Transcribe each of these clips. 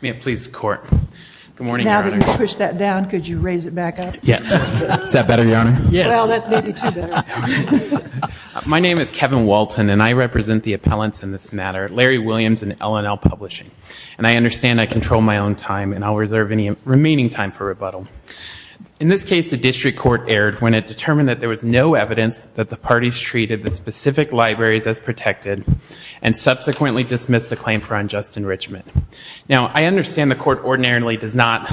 May it please the Court. Good morning, Your Honor. Now that you've pushed that down, could you raise it back up? Yes. Is that better, Your Honor? Yes. Well, that's maybe too better. My name is Kevin Walton, and I represent the appellants in this matter, Larry Williams and L&L Publishing. And I understand I control my own time, and I'll reserve any remaining time for rebuttal. In this case, the district court erred when it determined that there was no evidence that the parties treated the specific agreements in Richmond. Now, I understand the Court ordinarily does not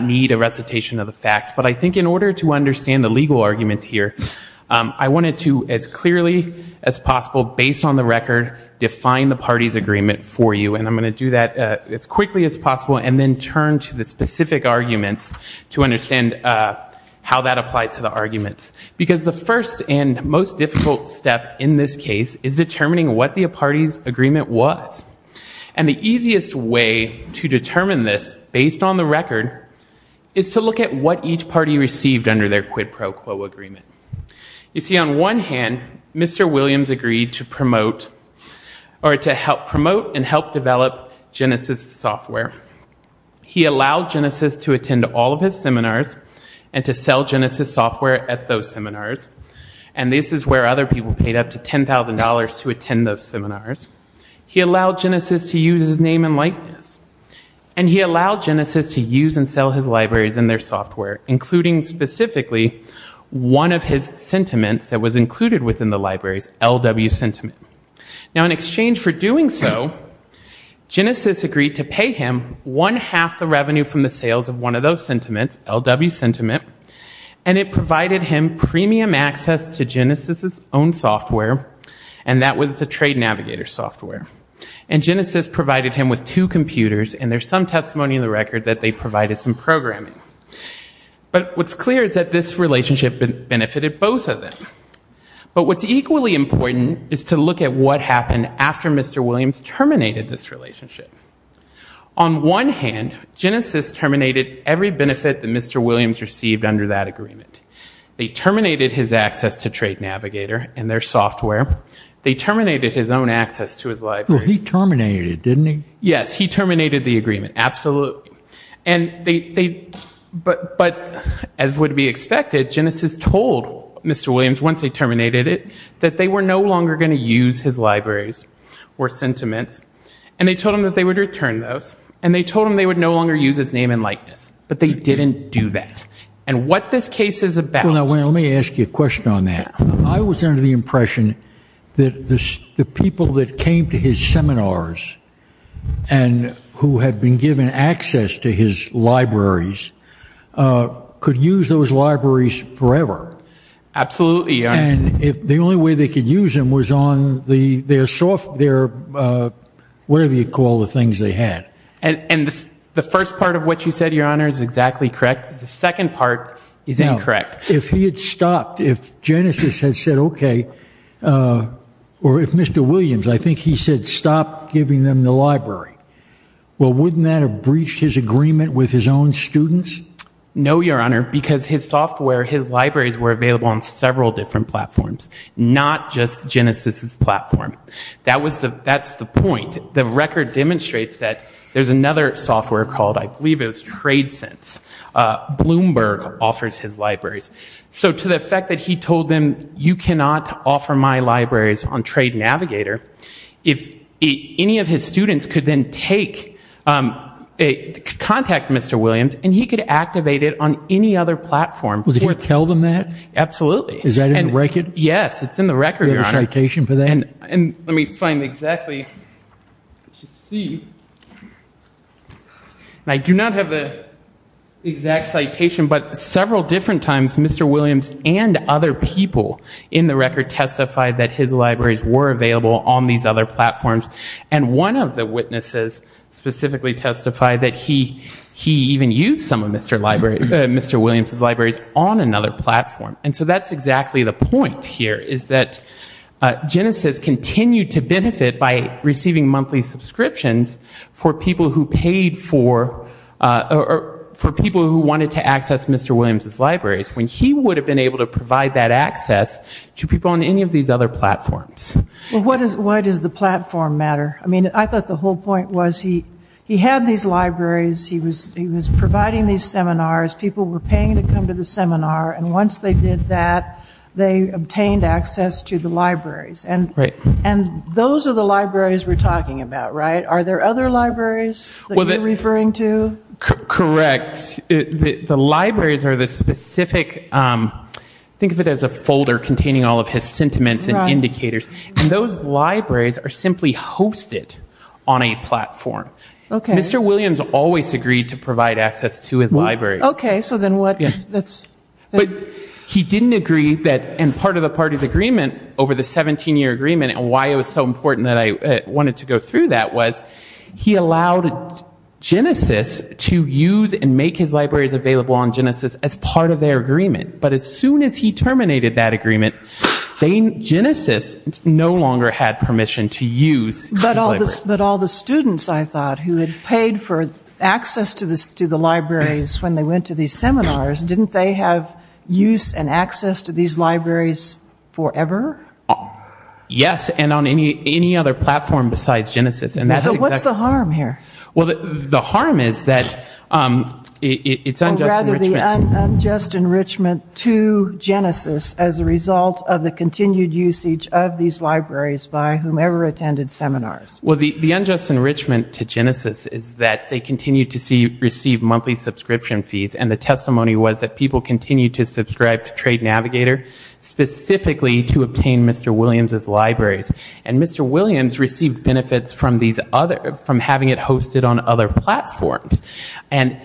need a recitation of the facts, but I think in order to understand the legal arguments here, I wanted to, as clearly as possible, based on the record, define the parties' agreement for you. And I'm going to do that as quickly as possible, and then turn to the specific arguments to understand how that applies to the arguments. Because the first and most difficult step in this case is determining what the parties' agreement was. And the easiest way to determine this, based on the record, is to look at what each party received under their quid pro quo agreement. You see, on one hand, Mr. Williams agreed to promote, or to help promote and help develop, Genesys software. He allowed Genesys to attend all of his seminars, and to sell Genesys software at those seminars. And this is where other people paid up to $10,000 to attend those seminars. He allowed Genesys to use his name and likeness. And he allowed Genesys to use and sell his libraries and their software, including, specifically, one of his sentiments that was included within the libraries, LW Sentiment. Now, in exchange for doing so, Genesys agreed to pay him one-half the revenue from the sales of one of those sentiments, LW Sentiment, and it provided him premium access to Genesys' own software, and that was the trade navigator software. And Genesys provided him with two computers, and there's some testimony in the record that they provided some programming. But what's clear is that this relationship benefited both of them. But what's equally important is to look at what happened after Mr. Williams terminated this relationship. On one hand, Genesys terminated every benefit that Mr. Williams received under that agreement. They terminated his access to trade navigator and their software. They terminated his own access to his libraries. Yes, he terminated the agreement, absolutely. But as would be expected, Genesys told Mr. Williams, once they terminated it, that they were no longer going to use his libraries or sentiments, and they told him that they would return those, and they told him they would no longer use his name and likeness. But they didn't do that. And what this case is about... Let me ask you a question on that. I was under the impression that the people that came to his seminars and who had been given access to his libraries could use those libraries forever. Absolutely, Your Honor. And the only way they could use them was on their software, whatever you call the things they had. And the first part of what you said, Your Honor, is exactly correct. The second part is incorrect. Now, if he had stopped, if Genesys had said, okay, or if Mr. Williams, I think he said, stop giving them the library, well, wouldn't that have breached his agreement with his own students? No, Your Honor, because his software, his libraries were available on several different platforms, not just Genesys' platform. That's the point. The record demonstrates that. There's another software called, I believe it was TradeSense. Bloomberg offers his libraries. So to the effect that he told them, you cannot offer my libraries on TradeNavigator, if any of his students could then contact Mr. Williams and he could activate it on any other platform. Would he tell them that? Absolutely. Is that in the record? Yes, it's in the record, Your Honor. Do you have a citation for that? Let me find exactly. I do not have the exact citation, but several different times Mr. Williams and other people in the record testified that his libraries were available on these other platforms. And one of the witnesses specifically testified that he even used some of Mr. Williams' libraries on another platform. And so that's exactly the point here, is that Genesys continued to benefit by receiving monthly subscriptions for people who paid for, for people who wanted to access Mr. Williams' libraries, when he would have been able to provide that access to people on any of these other platforms. Why does the platform matter? I thought the whole point was he had these libraries, he was providing these seminars, people were paying to come to the seminar, and once they did that, they obtained access to the libraries. And those are the libraries we're talking about, right? Are there other libraries that you're referring to? Correct. The libraries are the specific, think of it as a folder containing all of his sentiments and indicators, and those libraries are simply hosted on a platform. Mr. Williams always agreed to provide access to his libraries. But he didn't agree that, and part of the party's agreement over the 17-year agreement, and why it was so important that I wanted to go through that, was he allowed Genesys to use and make his libraries available on Genesys as part of their agreement. But as soon as he terminated that agreement, Genesys no longer had permission to use his libraries. But all the students, I thought, who had paid for access to the libraries when they went to these seminars, didn't they have use and access to these libraries forever? Yes, and on any other platform besides Genesys. So what's the harm here? Well, the harm is that it's unjust enrichment. Or rather, the unjust enrichment to Genesys as a result of the continued usage of these libraries by whomever attended seminars. Well, the unjust enrichment to Genesys is that they continue to receive monthly subscription fees, and the testimony was that people continue to subscribe to Trade Navigator, specifically to obtain Mr. Williams' libraries. And Mr. Williams received benefits from having it hosted on other platforms. And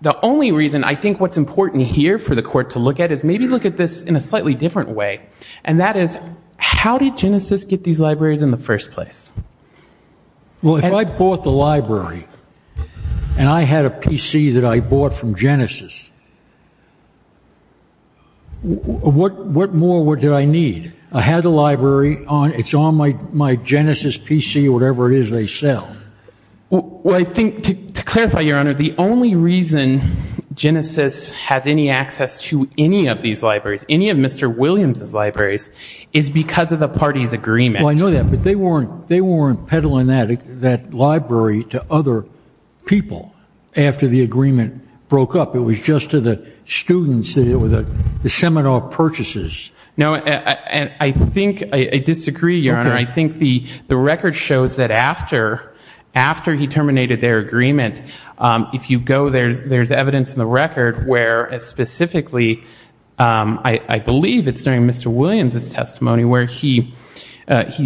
the only reason I think what's important here for the court to look at is maybe look at this in a slightly different way. And that is, how did Genesys get these libraries in the first place? Well, if I bought the library, and I had a PC that I bought from Genesys, what more did I need? I had the library, it's on my Genesys PC, whatever it is they sell. Well, I think to clarify, Your Honor, the only reason Genesys has any access to any of these libraries, any of Mr. Williams' libraries, is because of the parties' agreement. Well, I know that, but they weren't peddling that library to other people after the agreement broke up. It was just to the students, the seminar purchases. No, and I think, I disagree, Your Honor. I think the record shows that after he terminated their agreement, if you go, there's evidence in the record where specifically, I believe it's during Mr. Williams' testimony, where he's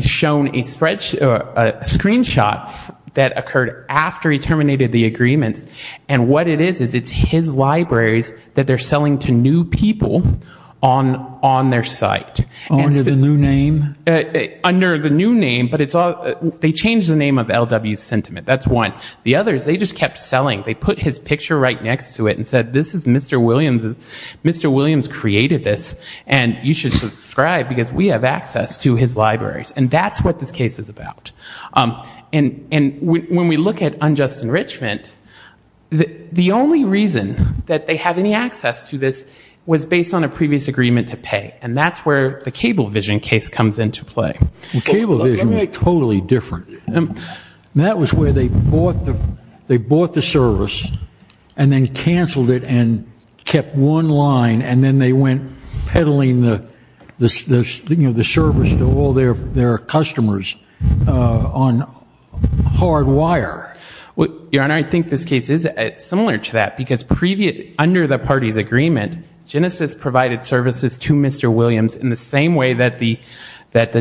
shown a screenshot that occurred after he terminated the agreements. And what it is, is it's his libraries that they're selling to new people on their site. Under the new name? Under the new name, but they changed the name of LW Sentiment, that's one. The others, they just kept selling. They put his picture right next to it and said, this is Mr. Williams, Mr. Williams created this, and you should subscribe, because we have access to his libraries. And that's what this case is about. And when we look at unjust enrichment, the only reason that they have any access to this was based on a previous agreement to pay. And that's where the Cablevision case comes into play. Well, Cablevision was totally different. And that was where they bought the service, and then canceled it and kept one line, and then they went peddling the service to all their customers. On hard wire. And I think this case is similar to that, because under the party's agreement, Genesis provided services to Mr. Williams in the same way that the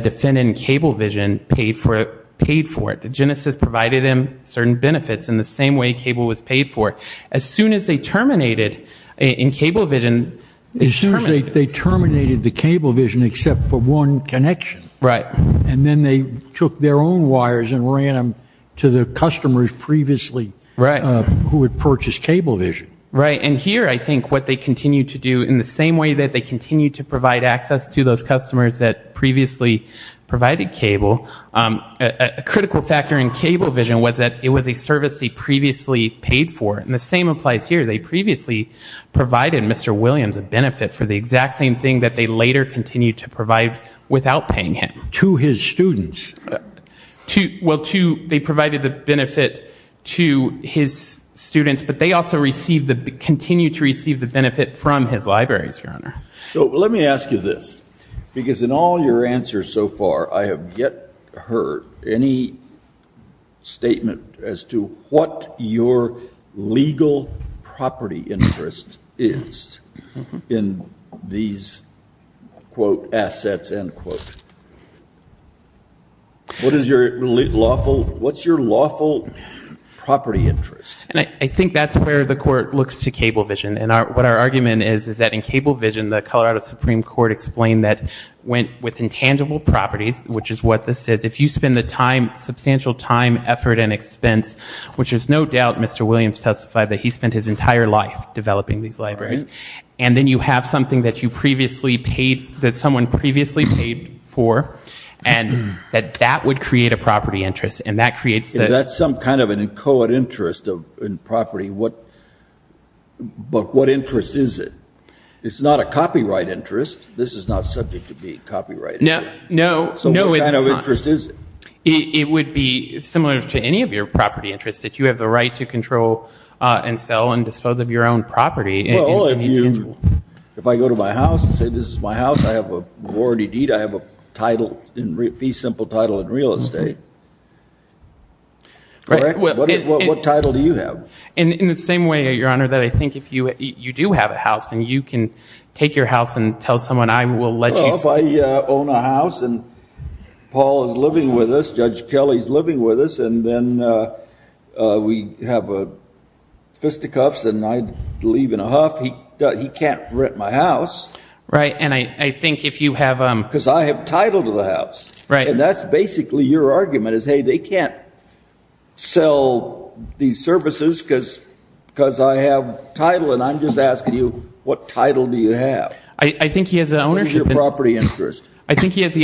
defendant in Cablevision paid for it. Genesis provided him certain benefits in the same way Cable was paid for. As soon as they terminated, in Cablevision, they terminated. They terminated the Cablevision except for one connection. And then they took their own wires and ran them to the customers previously who had purchased Cablevision. Right. And here I think what they continued to do, in the same way that they continued to provide access to those customers that previously provided Cable, a critical factor in Cablevision was that it was a service they previously paid for. And the same applies here. They previously provided Mr. Williams a benefit for the exact same thing that they later continued to provide without paying him. To his students. Well, they provided the benefit to his students, but they also continued to receive the benefit from his libraries, Your Honor. So let me ask you this. Because in all your answers so far, I have yet heard any statement as to what your legal property interest is in these, quote, assets, end quote. What is your lawful property interest? I think that's where the Court looks to Cablevision. And what our argument is, is that in Cablevision, the Colorado Supreme Court explained that with intangible properties, which is what this is, if you spend the time, substantial time, effort and expense, which there's no doubt Mr. Williams testified that he spent his entire life developing these libraries, and then you have something that you previously paid, that someone previously paid for, and that that would create a property interest. And that creates the... What interest is it? It's not a copyright interest. This is not subject to be copyrighted. What kind of interest is it? It would be similar to any of your property interests, that you have the right to control and sell and dispose of your own property. Well, if I go to my house and say this is my house, I have a majority deed, I have a title, fee simple title in real estate. What title do you have? In the same way, Your Honor, that I think if you do have a house and you can take your house and tell someone, I will let you... Well, if I own a house and Paul is living with us, Judge Kelly is living with us, and then we have fisticuffs and I'd leave in a huff. He can't rent my house. Because I have title to the house. And that's basically your argument is, hey, they can't sell these services because I have title. And I'm just asking you, what title do you have? I think he has the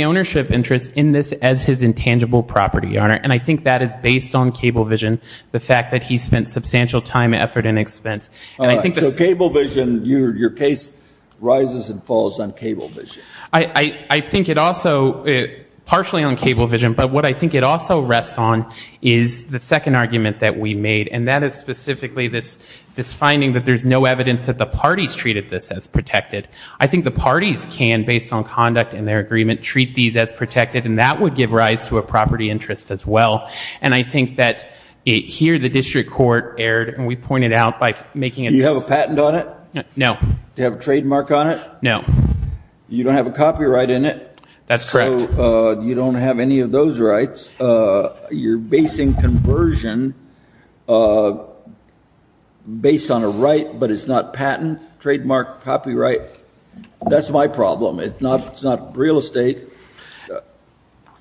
ownership interest in this as his intangible property, Your Honor. And I think that is based on cable vision, the fact that he spent substantial time, effort and expense. And I think... So cable vision, your case rises and falls on cable vision. I think it also, partially on cable vision, but what I think it also rests on is the second argument that we made. And that is specifically this finding that there's no evidence that the parties treated this as protected. I think the parties can, based on conduct and their agreement, treat these as protected. And that would give rise to a property interest as well. And I think that here the district court erred, and we pointed out by making it... Do you have a patent on it? No. Do you have a trademark on it? No. You don't have a copyright in it? That's correct. So you don't have any of those rights. You're basing conversion based on a right, but it's not patent, trademark, copyright. That's my problem. It's not real estate.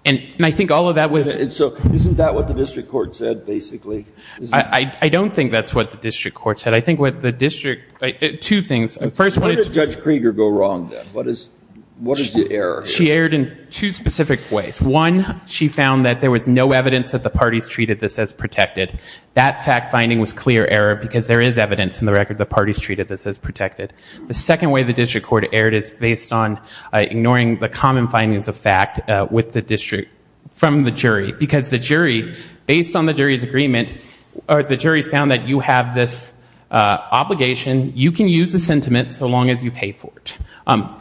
Isn't that what the district court said, basically? I don't think that's what the district court said. I think what the district, two things. Where did Judge Krieger go wrong, then? What is the error? She erred in two specific ways. One, she found that there was no evidence that the parties treated this as protected. The other, she found that the parties treated it as a legal obligation. You can use the sentiment so long as you pay for it.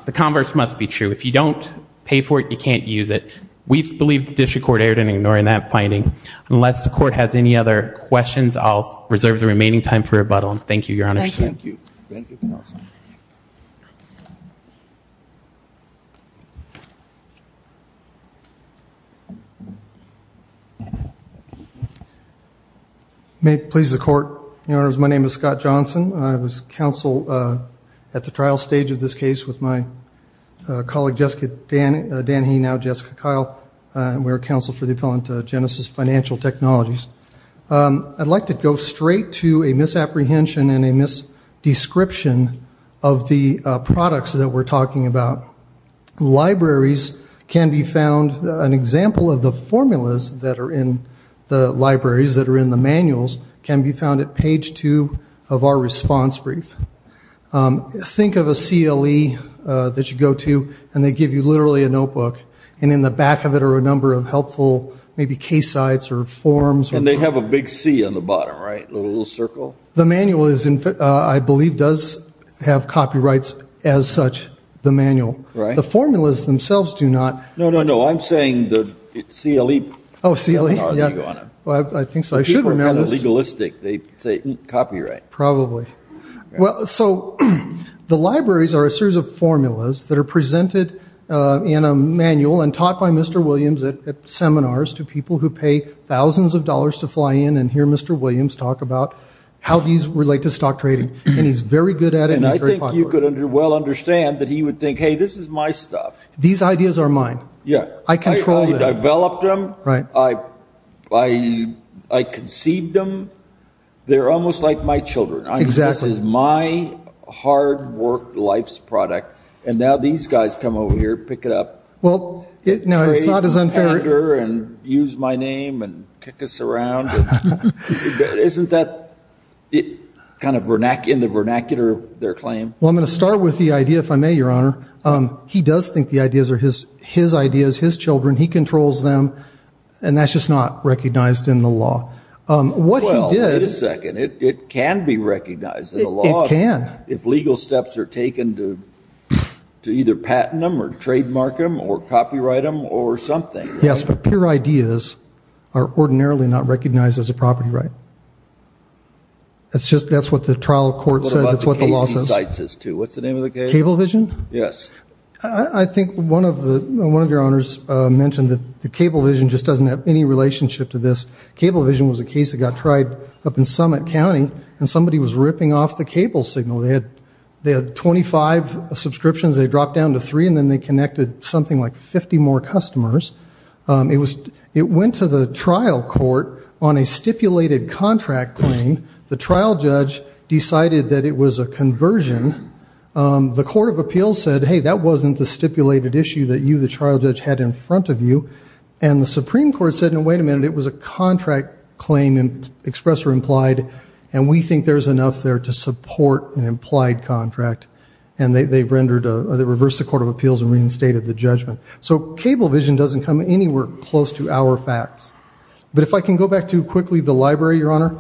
The converse must be true. If you don't pay for it, you can't use it. We believe the district court erred in ignoring that finding. Unless the court has any other questions, I'll reserve the remaining time for rebuttal. My name is Scott Johnson. I'd like to go straight to a misapprehension and a misdescription of the products that we're talking about. Libraries can be found, an example of the formulas that are in the libraries, that are in the manuals, can be found at page two of our response brief. Think of a CLE that you go to, and they give you literally a notebook, and in the back of it are a number of helpful maybe case sites or forms. And they have a big C on the bottom, right? A little circle? The manual, I believe, does have copyrights as such, the manual. The formulas themselves do not. The libraries are a series of formulas that are presented in a manual and taught by Mr. Williams at seminars to people who pay thousands of dollars to fly in and hear Mr. Williams talk about how these relate to stock trading. And he's very good at it. And I think you could well understand that he would think, hey, this is my stuff. These ideas are mine. I control them. I developed them. I conceived them. They're almost like my children. This is my hard-worked life's product, and now these guys come over here and pick it up. Well, no, it's not as unfair. And use my name and kick us around. Isn't that kind of in the vernacular of their claim? Well, I'm going to start with the idea, if I may, Your Honor. He does think the ideas are his ideas, his children. He controls them. Well, wait a second. It can be recognized in the law. If legal steps are taken to either patent them or trademark them or copyright them or something. Yes, but pure ideas are ordinarily not recognized as a property right. That's what the trial court said. That's what the law says. What's the name of the case? Cablevision? I think one of your honors mentioned that the Cablevision just doesn't have any relationship to this. Cablevision was a case that got tried up in Summit County, and somebody was ripping off the cable signal. They had 25 subscriptions. They dropped down to three, and then they connected something like 50 more customers. It went to the trial court on a stipulated contract claim. The trial judge decided that it was a conversion. The court of appeals said, hey, that wasn't the stipulated issue that you, the trial judge, had in front of you. And the Supreme Court said, no, wait a minute, it was a contract claim, express or implied, and we think there's enough there to support an implied contract. And they reversed the court of appeals and reinstated the judgment. So Cablevision doesn't come anywhere close to our facts. But if I can go back to, quickly, the library, Your Honor,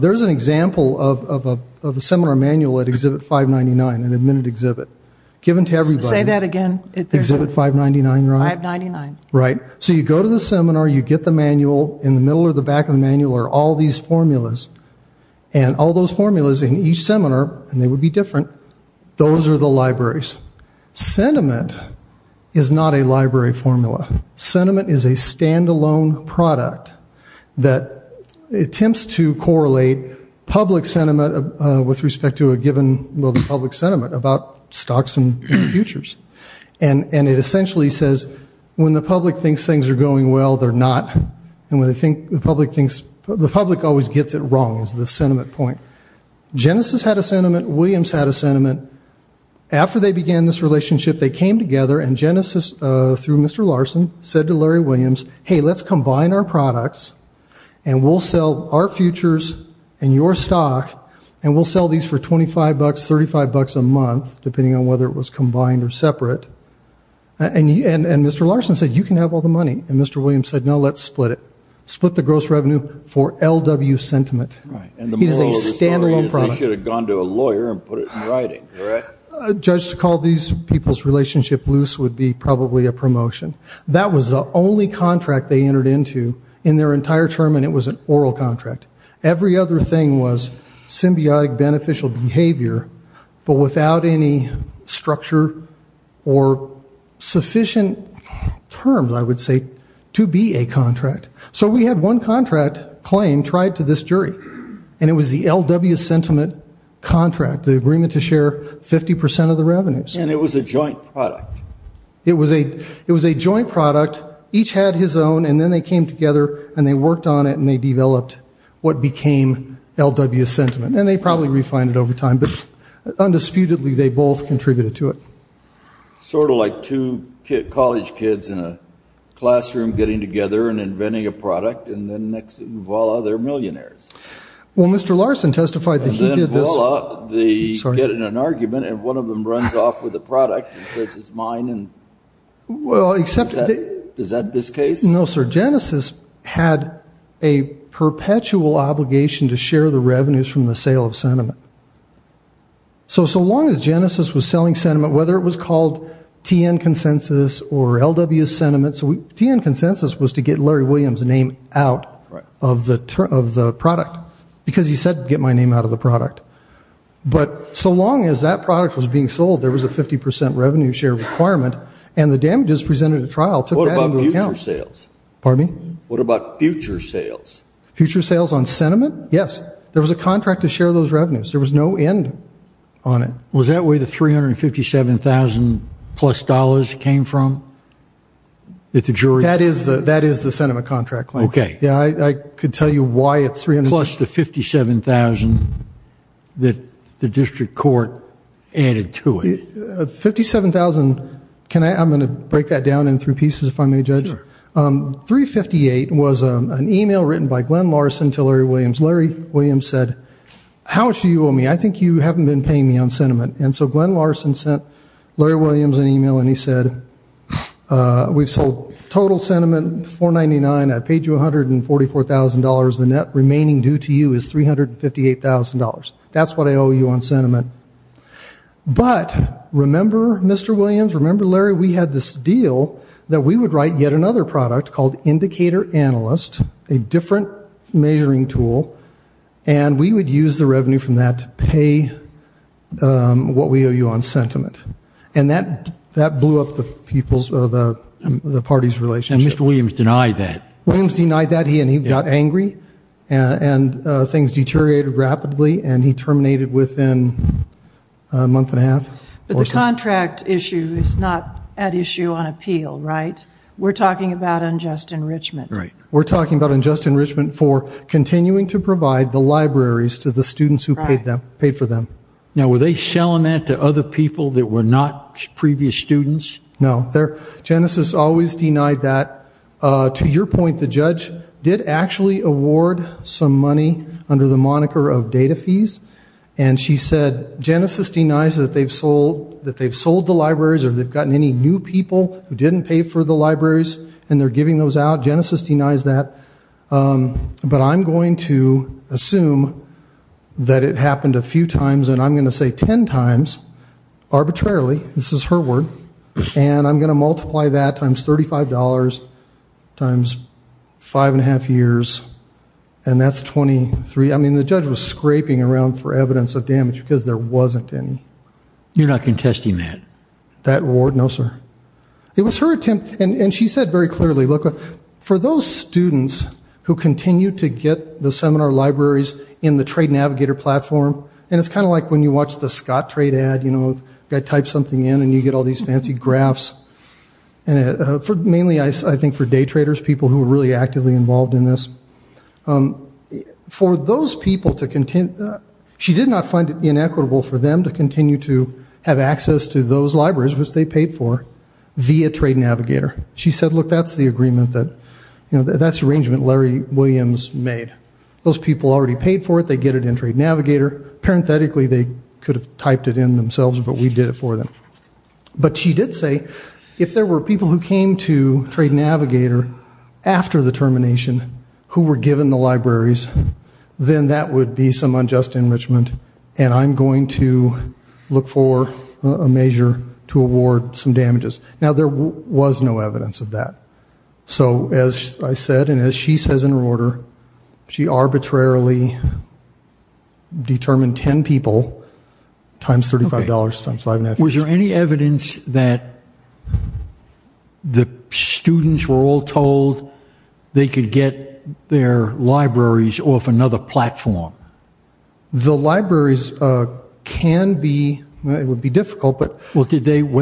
there's an example of a seminar manual at Exhibit 599, an admitted exhibit, given to everybody. Say that again. Exhibit 599, Your Honor. Right. So you go to the seminar, you get the manual. In the middle or the back of the manual are all these formulas. And all those formulas in each seminar, and they would be different, those are the libraries. Sentiment is not a library formula. Sentiment is a standalone product that attempts to correlate public sentiment with respect to a given public sentiment about stocks and futures. And it essentially says, when the public thinks things are going well, they're not. And the public always gets it wrong, is the sentiment point. Genesis had a sentiment, Williams had a sentiment. After they began this relationship, they came together, and Genesis, through Mr. Larson, said to Larry Williams, hey, let's combine our products, and we'll sell our futures and your stock, and we'll sell these for $25, $35 a month, depending on whether it was combined or separate. And Mr. Larson said, you can have all the money. And Mr. Williams said, no, let's split it. Split the gross revenue for LW sentiment. And the moral of the story is they should have gone to a lawyer and put it in writing, correct? A judge to call these people's relationship loose would be probably a promotion. That was the only contract they entered into in their entire term, and it was an oral contract. Every other thing was symbiotic beneficial behavior, but without any structure or sufficient terms, I would say, to be a contract. So we had one contract claim tried to this jury, and it was the LW sentiment contract, the agreement to share 50% of the revenues. And it was a joint product. It was a joint product. Each had his own, and then they came together, and they worked on it, and they developed what became LW sentiment. And they probably refined it over time, but undisputedly, they both contributed to it. Sort of like two college kids in a classroom getting together and inventing a product, and then next, voila, they're millionaires. Well, Mr. Larson testified that he did this. And then, voila, they get in an argument, and one of them runs off with a product and says it's mine. Is that this case? No, sir. Genesis had a perpetual obligation to share the revenues from the sale of sentiment. So so long as Genesis was selling sentiment, whether it was called TN Consensus or LW Sentiment, TN Consensus was to get Larry Williams' name out of the product because he said get my name out of the product. But so long as that product was being sold, there was a 50% revenue share requirement, and the damages presented at trial took that into account. What about future sales? Future sales on sentiment? Yes. There was a contract to share those revenues. There was no end on it. Was that where the $357,000-plus came from? That is the sentiment contract claim. Plus the $57,000 that the district court added to it. $57,000. I'm going to break that down in three pieces if I may, Judge. $358,000 was an email written by Glenn Larson to Larry Williams. Larry Williams said, how much do you owe me? I think you haven't been paying me on sentiment. And so Glenn Larson sent Larry Williams an email, and he said, we've sold total sentiment $499,000. I've paid you $144,000. The net remaining due to you is $358,000. That's what I owe you on sentiment. But remember, Mr. Williams, remember, Larry, we had this deal that we would write yet another product called Indicator Analyst, a different measuring tool, and we would use the revenue from that to pay what we owe you on sentiment. And that blew up the people's, the party's relationship. And Mr. Williams denied that. Williams denied that, and he got angry, and things deteriorated rapidly, and he terminated within a month and a half. But the contract issue is not at issue on appeal, right? We're talking about unjust enrichment. Right. We're talking about unjust enrichment for continuing to provide the libraries to the students who paid for them. Now, were they selling that to other people that were not previous students? No. Genesis always denied that. To your point, the judge did actually award some money under the moniker of data fees, and she said Genesis denies that they've sold the libraries or they've gotten any new people who didn't pay for the libraries, and they're giving those out. Genesis denies that. But I'm going to assume that it happened a few times, and I'm going to say 10 times arbitrarily, this is her word, and I'm going to multiply that times $35 times five and a half years, and that's 23. I mean, the judge was scraping around for evidence of damage because there wasn't any. You're not contesting that? That award? No, sir. It was her attempt, and she said very clearly, look, for those students who continue to get the seminar libraries in the trade navigator platform, and it's kind of like when you watch the Scott trade ad, you know, the guy types something in and you get all these fancy graphs, mainly I think for day traders, people who are really actively involved in this, for those people to continue, she did not find it inequitable for them to continue to have access to those libraries, which they paid for, via trade navigator. She said, look, that's the agreement that, you know, that's the arrangement Larry Williams made. Those people already paid for it, they get it in trade navigator. Parenthetically, they could have typed it in themselves, but we did it for them. But she did say, if there were people who came to trade navigator after the termination who were given the libraries, then that would be some unjust enrichment, and I'm going to look for a measure to award some damages. Now, there was no evidence of that. So, as I said, and as she says in her order, she arbitrarily determined ten people times $35 times five and a half years. Was there any evidence that the students were all told they could get their libraries off another platform? The libraries can be, it would be difficult, but. Were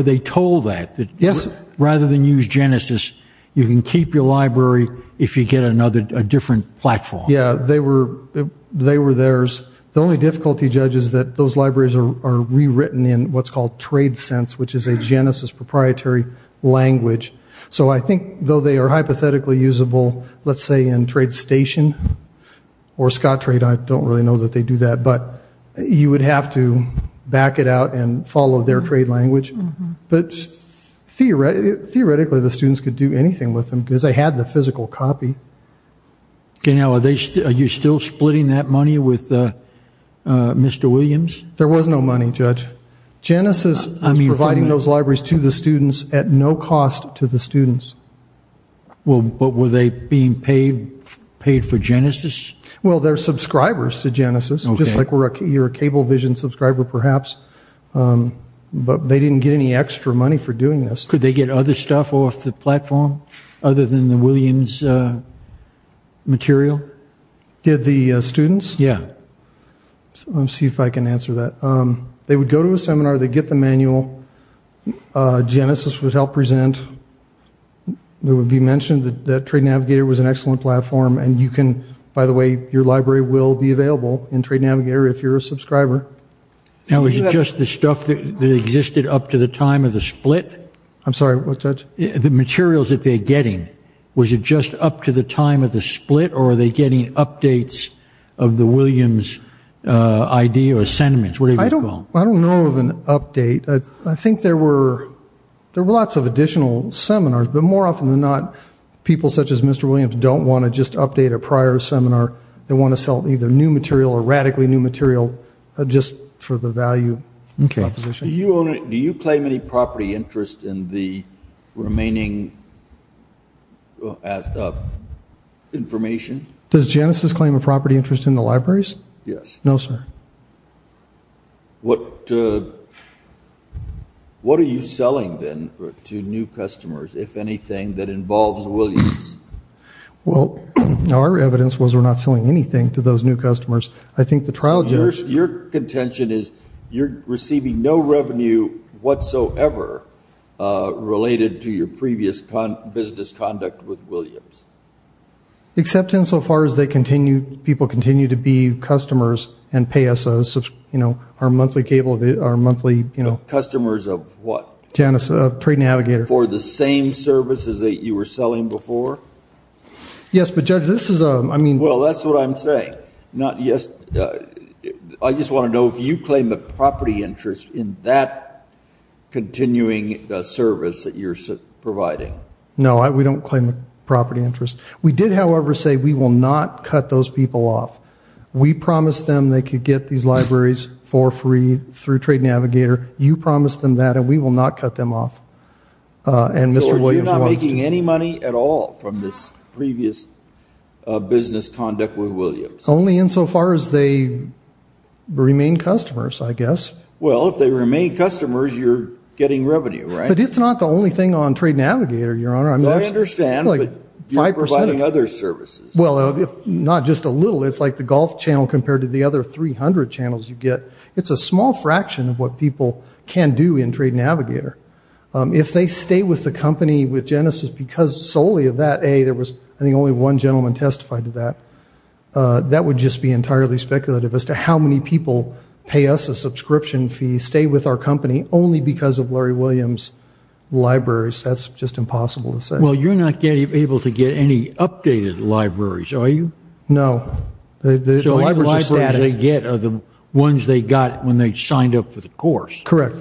they told that? Yes. Rather than use Genesis, you can keep your library if you get another, a different platform. Yeah, they were theirs. The only difficulty, Judge, is that those libraries are rewritten in what's called trade sense, which is a Genesis proprietary language. So I think, though they are hypothetically usable, let's say in Trade Station or Scottrade, I don't really know that they do that, but you would have to back it out and follow their trade language. But theoretically, the students could do anything with them, because they had the physical copy. Okay. Now, are you still splitting that money with Mr. Williams? There was no money, Judge. Genesis was providing those libraries to the students at no cost to the students. Well, but were they being paid for Genesis? Well, they're subscribers to Genesis, just like you're a Cablevision subscriber, perhaps. But they didn't get any extra money for doing this. Could they get other stuff off the platform other than the Williams material? Did the students? Yeah. Let me see if I can answer that. They would go to a seminar. They'd get the manual. Genesis would help present. It would be mentioned that Trade Navigator was an excellent platform, and you can, by the way, your library will be available in Trade Navigator if you're a subscriber. Now, is it just the stuff that existed up to the time of the split? I'm sorry, what, Judge? The materials that they're getting, was it just up to the time of the split, or are they getting updates of the Williams idea or sentiments, whatever you call them? I don't know of an update. I think there were lots of additional seminars, but more often than not, people such as Mr. Williams don't want to just update a prior seminar. They want to sell either new material or radically new material just for the value proposition. Do you claim any property interest in the remaining information? Does Genesis claim a property interest in the libraries? Yes. No, sir. What are you selling then to new customers, if anything, that involves Williams? Well, our evidence was we're not selling anything to those new customers. I think the trial judge Your contention is you're receiving no revenue whatsoever related to your previous business conduct with Williams. Except insofar as people continue to be customers and pay us our monthly trade navigator. For the same services that you were selling before? Yes, but Judge, this is a... Well, that's what I'm saying. I just want to know if you claim a property interest in that continuing service that you're providing. No, we don't claim a property interest. We did, however, say we will not cut those people off. We promised them they could get these libraries for free through Trade Navigator. You promised them that and we will not cut them off. And Mr. Williams wants to... So you're not making any money at all from this previous business conduct with Williams? Only insofar as they remain customers, I guess. Well, if they remain customers, you're getting revenue, right? But it's not the only thing on Trade Navigator, Your Honor. I understand, but you're providing other services. Well, not just a little. It's like the golf channel compared to the other 300 channels you get. It's a small fraction of what people can do in Trade Navigator. If they stay with the company with Genesis because solely of that, A, there was, I think, only one gentleman testified to that. That would just be entirely speculative as to how many people pay us a subscription fee, stay with our company only because of Larry Williams' libraries. That's just impossible to say. Well, you're not able to get any updated libraries, are you? No. So the libraries they get are the ones they got when they signed up for the course. Correct.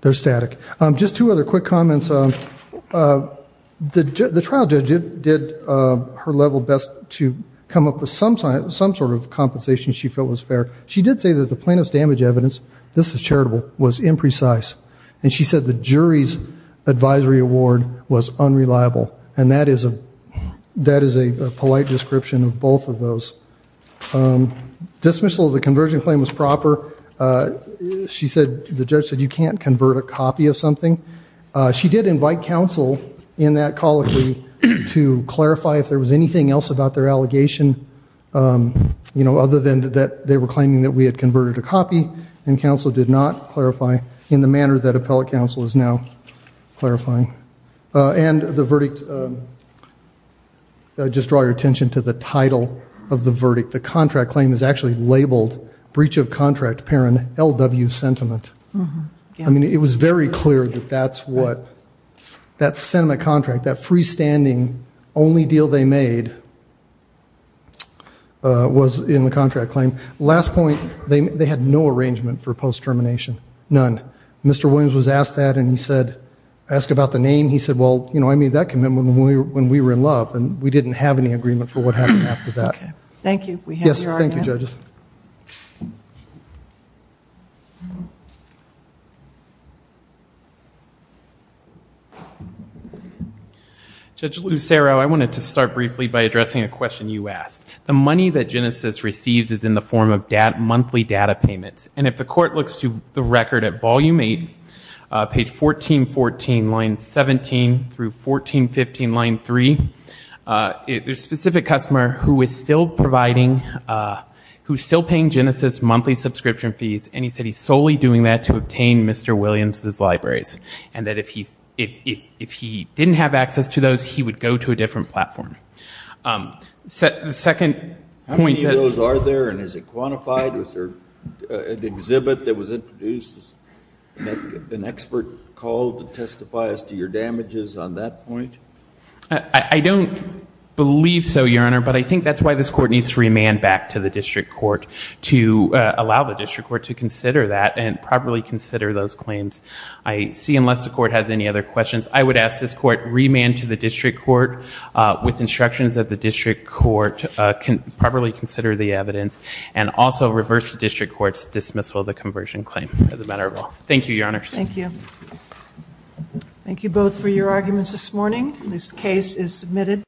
They're static. Just two other quick comments. The trial judge did her level best to come up with some sort of compensation she felt was fair. She did say that the plaintiff's damage evidence, this is charitable, was imprecise. And she said the jury's advisory award was unreliable. And that is a polite description of both of those. Dismissal of the conversion claim was proper. The judge said you can't convert a copy of something. She did invite counsel in that colloquy to clarify if there was anything else about their allegation, you know, other than that they were claiming that we had converted a copy and counsel did not clarify in the manner that appellate counsel is now clarifying. And the verdict, just draw your attention to the title of the verdict. The contract claim is actually labeled breach of contract parent LW sentiment. I mean, it was very clear that that's what that sentiment contract, that freestanding only deal they made was in the contract claim. Last point, they had no arrangement for post termination. None. Mr. Williams was asked that and he said, asked about the name. He said, well, you know, I made that commitment when we were in love and we didn't have any agreement for what happened after that. Yes, thank you judges. Judge Lucero, I wanted to start briefly by addressing a question you asked. The money that Genesis receives is in the form of monthly data payments. And if the court looks to the record at volume 8, page 1414 line 17 through 1415 line 3, there's a specific customer who is still providing, who's still paying Genesis monthly subscription fees. And he said he's solely doing that to obtain Mr. Williams' libraries. And that if he didn't have access to those, he would go to a different platform. The second point that... How many of those are there and is it quantified? Was there an exhibit that was introduced as an expert call to testify as to your damages on that point? I don't believe so, Your Honor, but I think that's why this court needs to remand back to the district court to allow the district court to consider that and properly consider those claims. I see, unless the court has any other questions, I would ask this court remand to the district court with instructions that the district court can properly consider the evidence and also reverse the district court's dismissal of the conversion claim as a matter of law. Thank you, Your Honors. Thank you.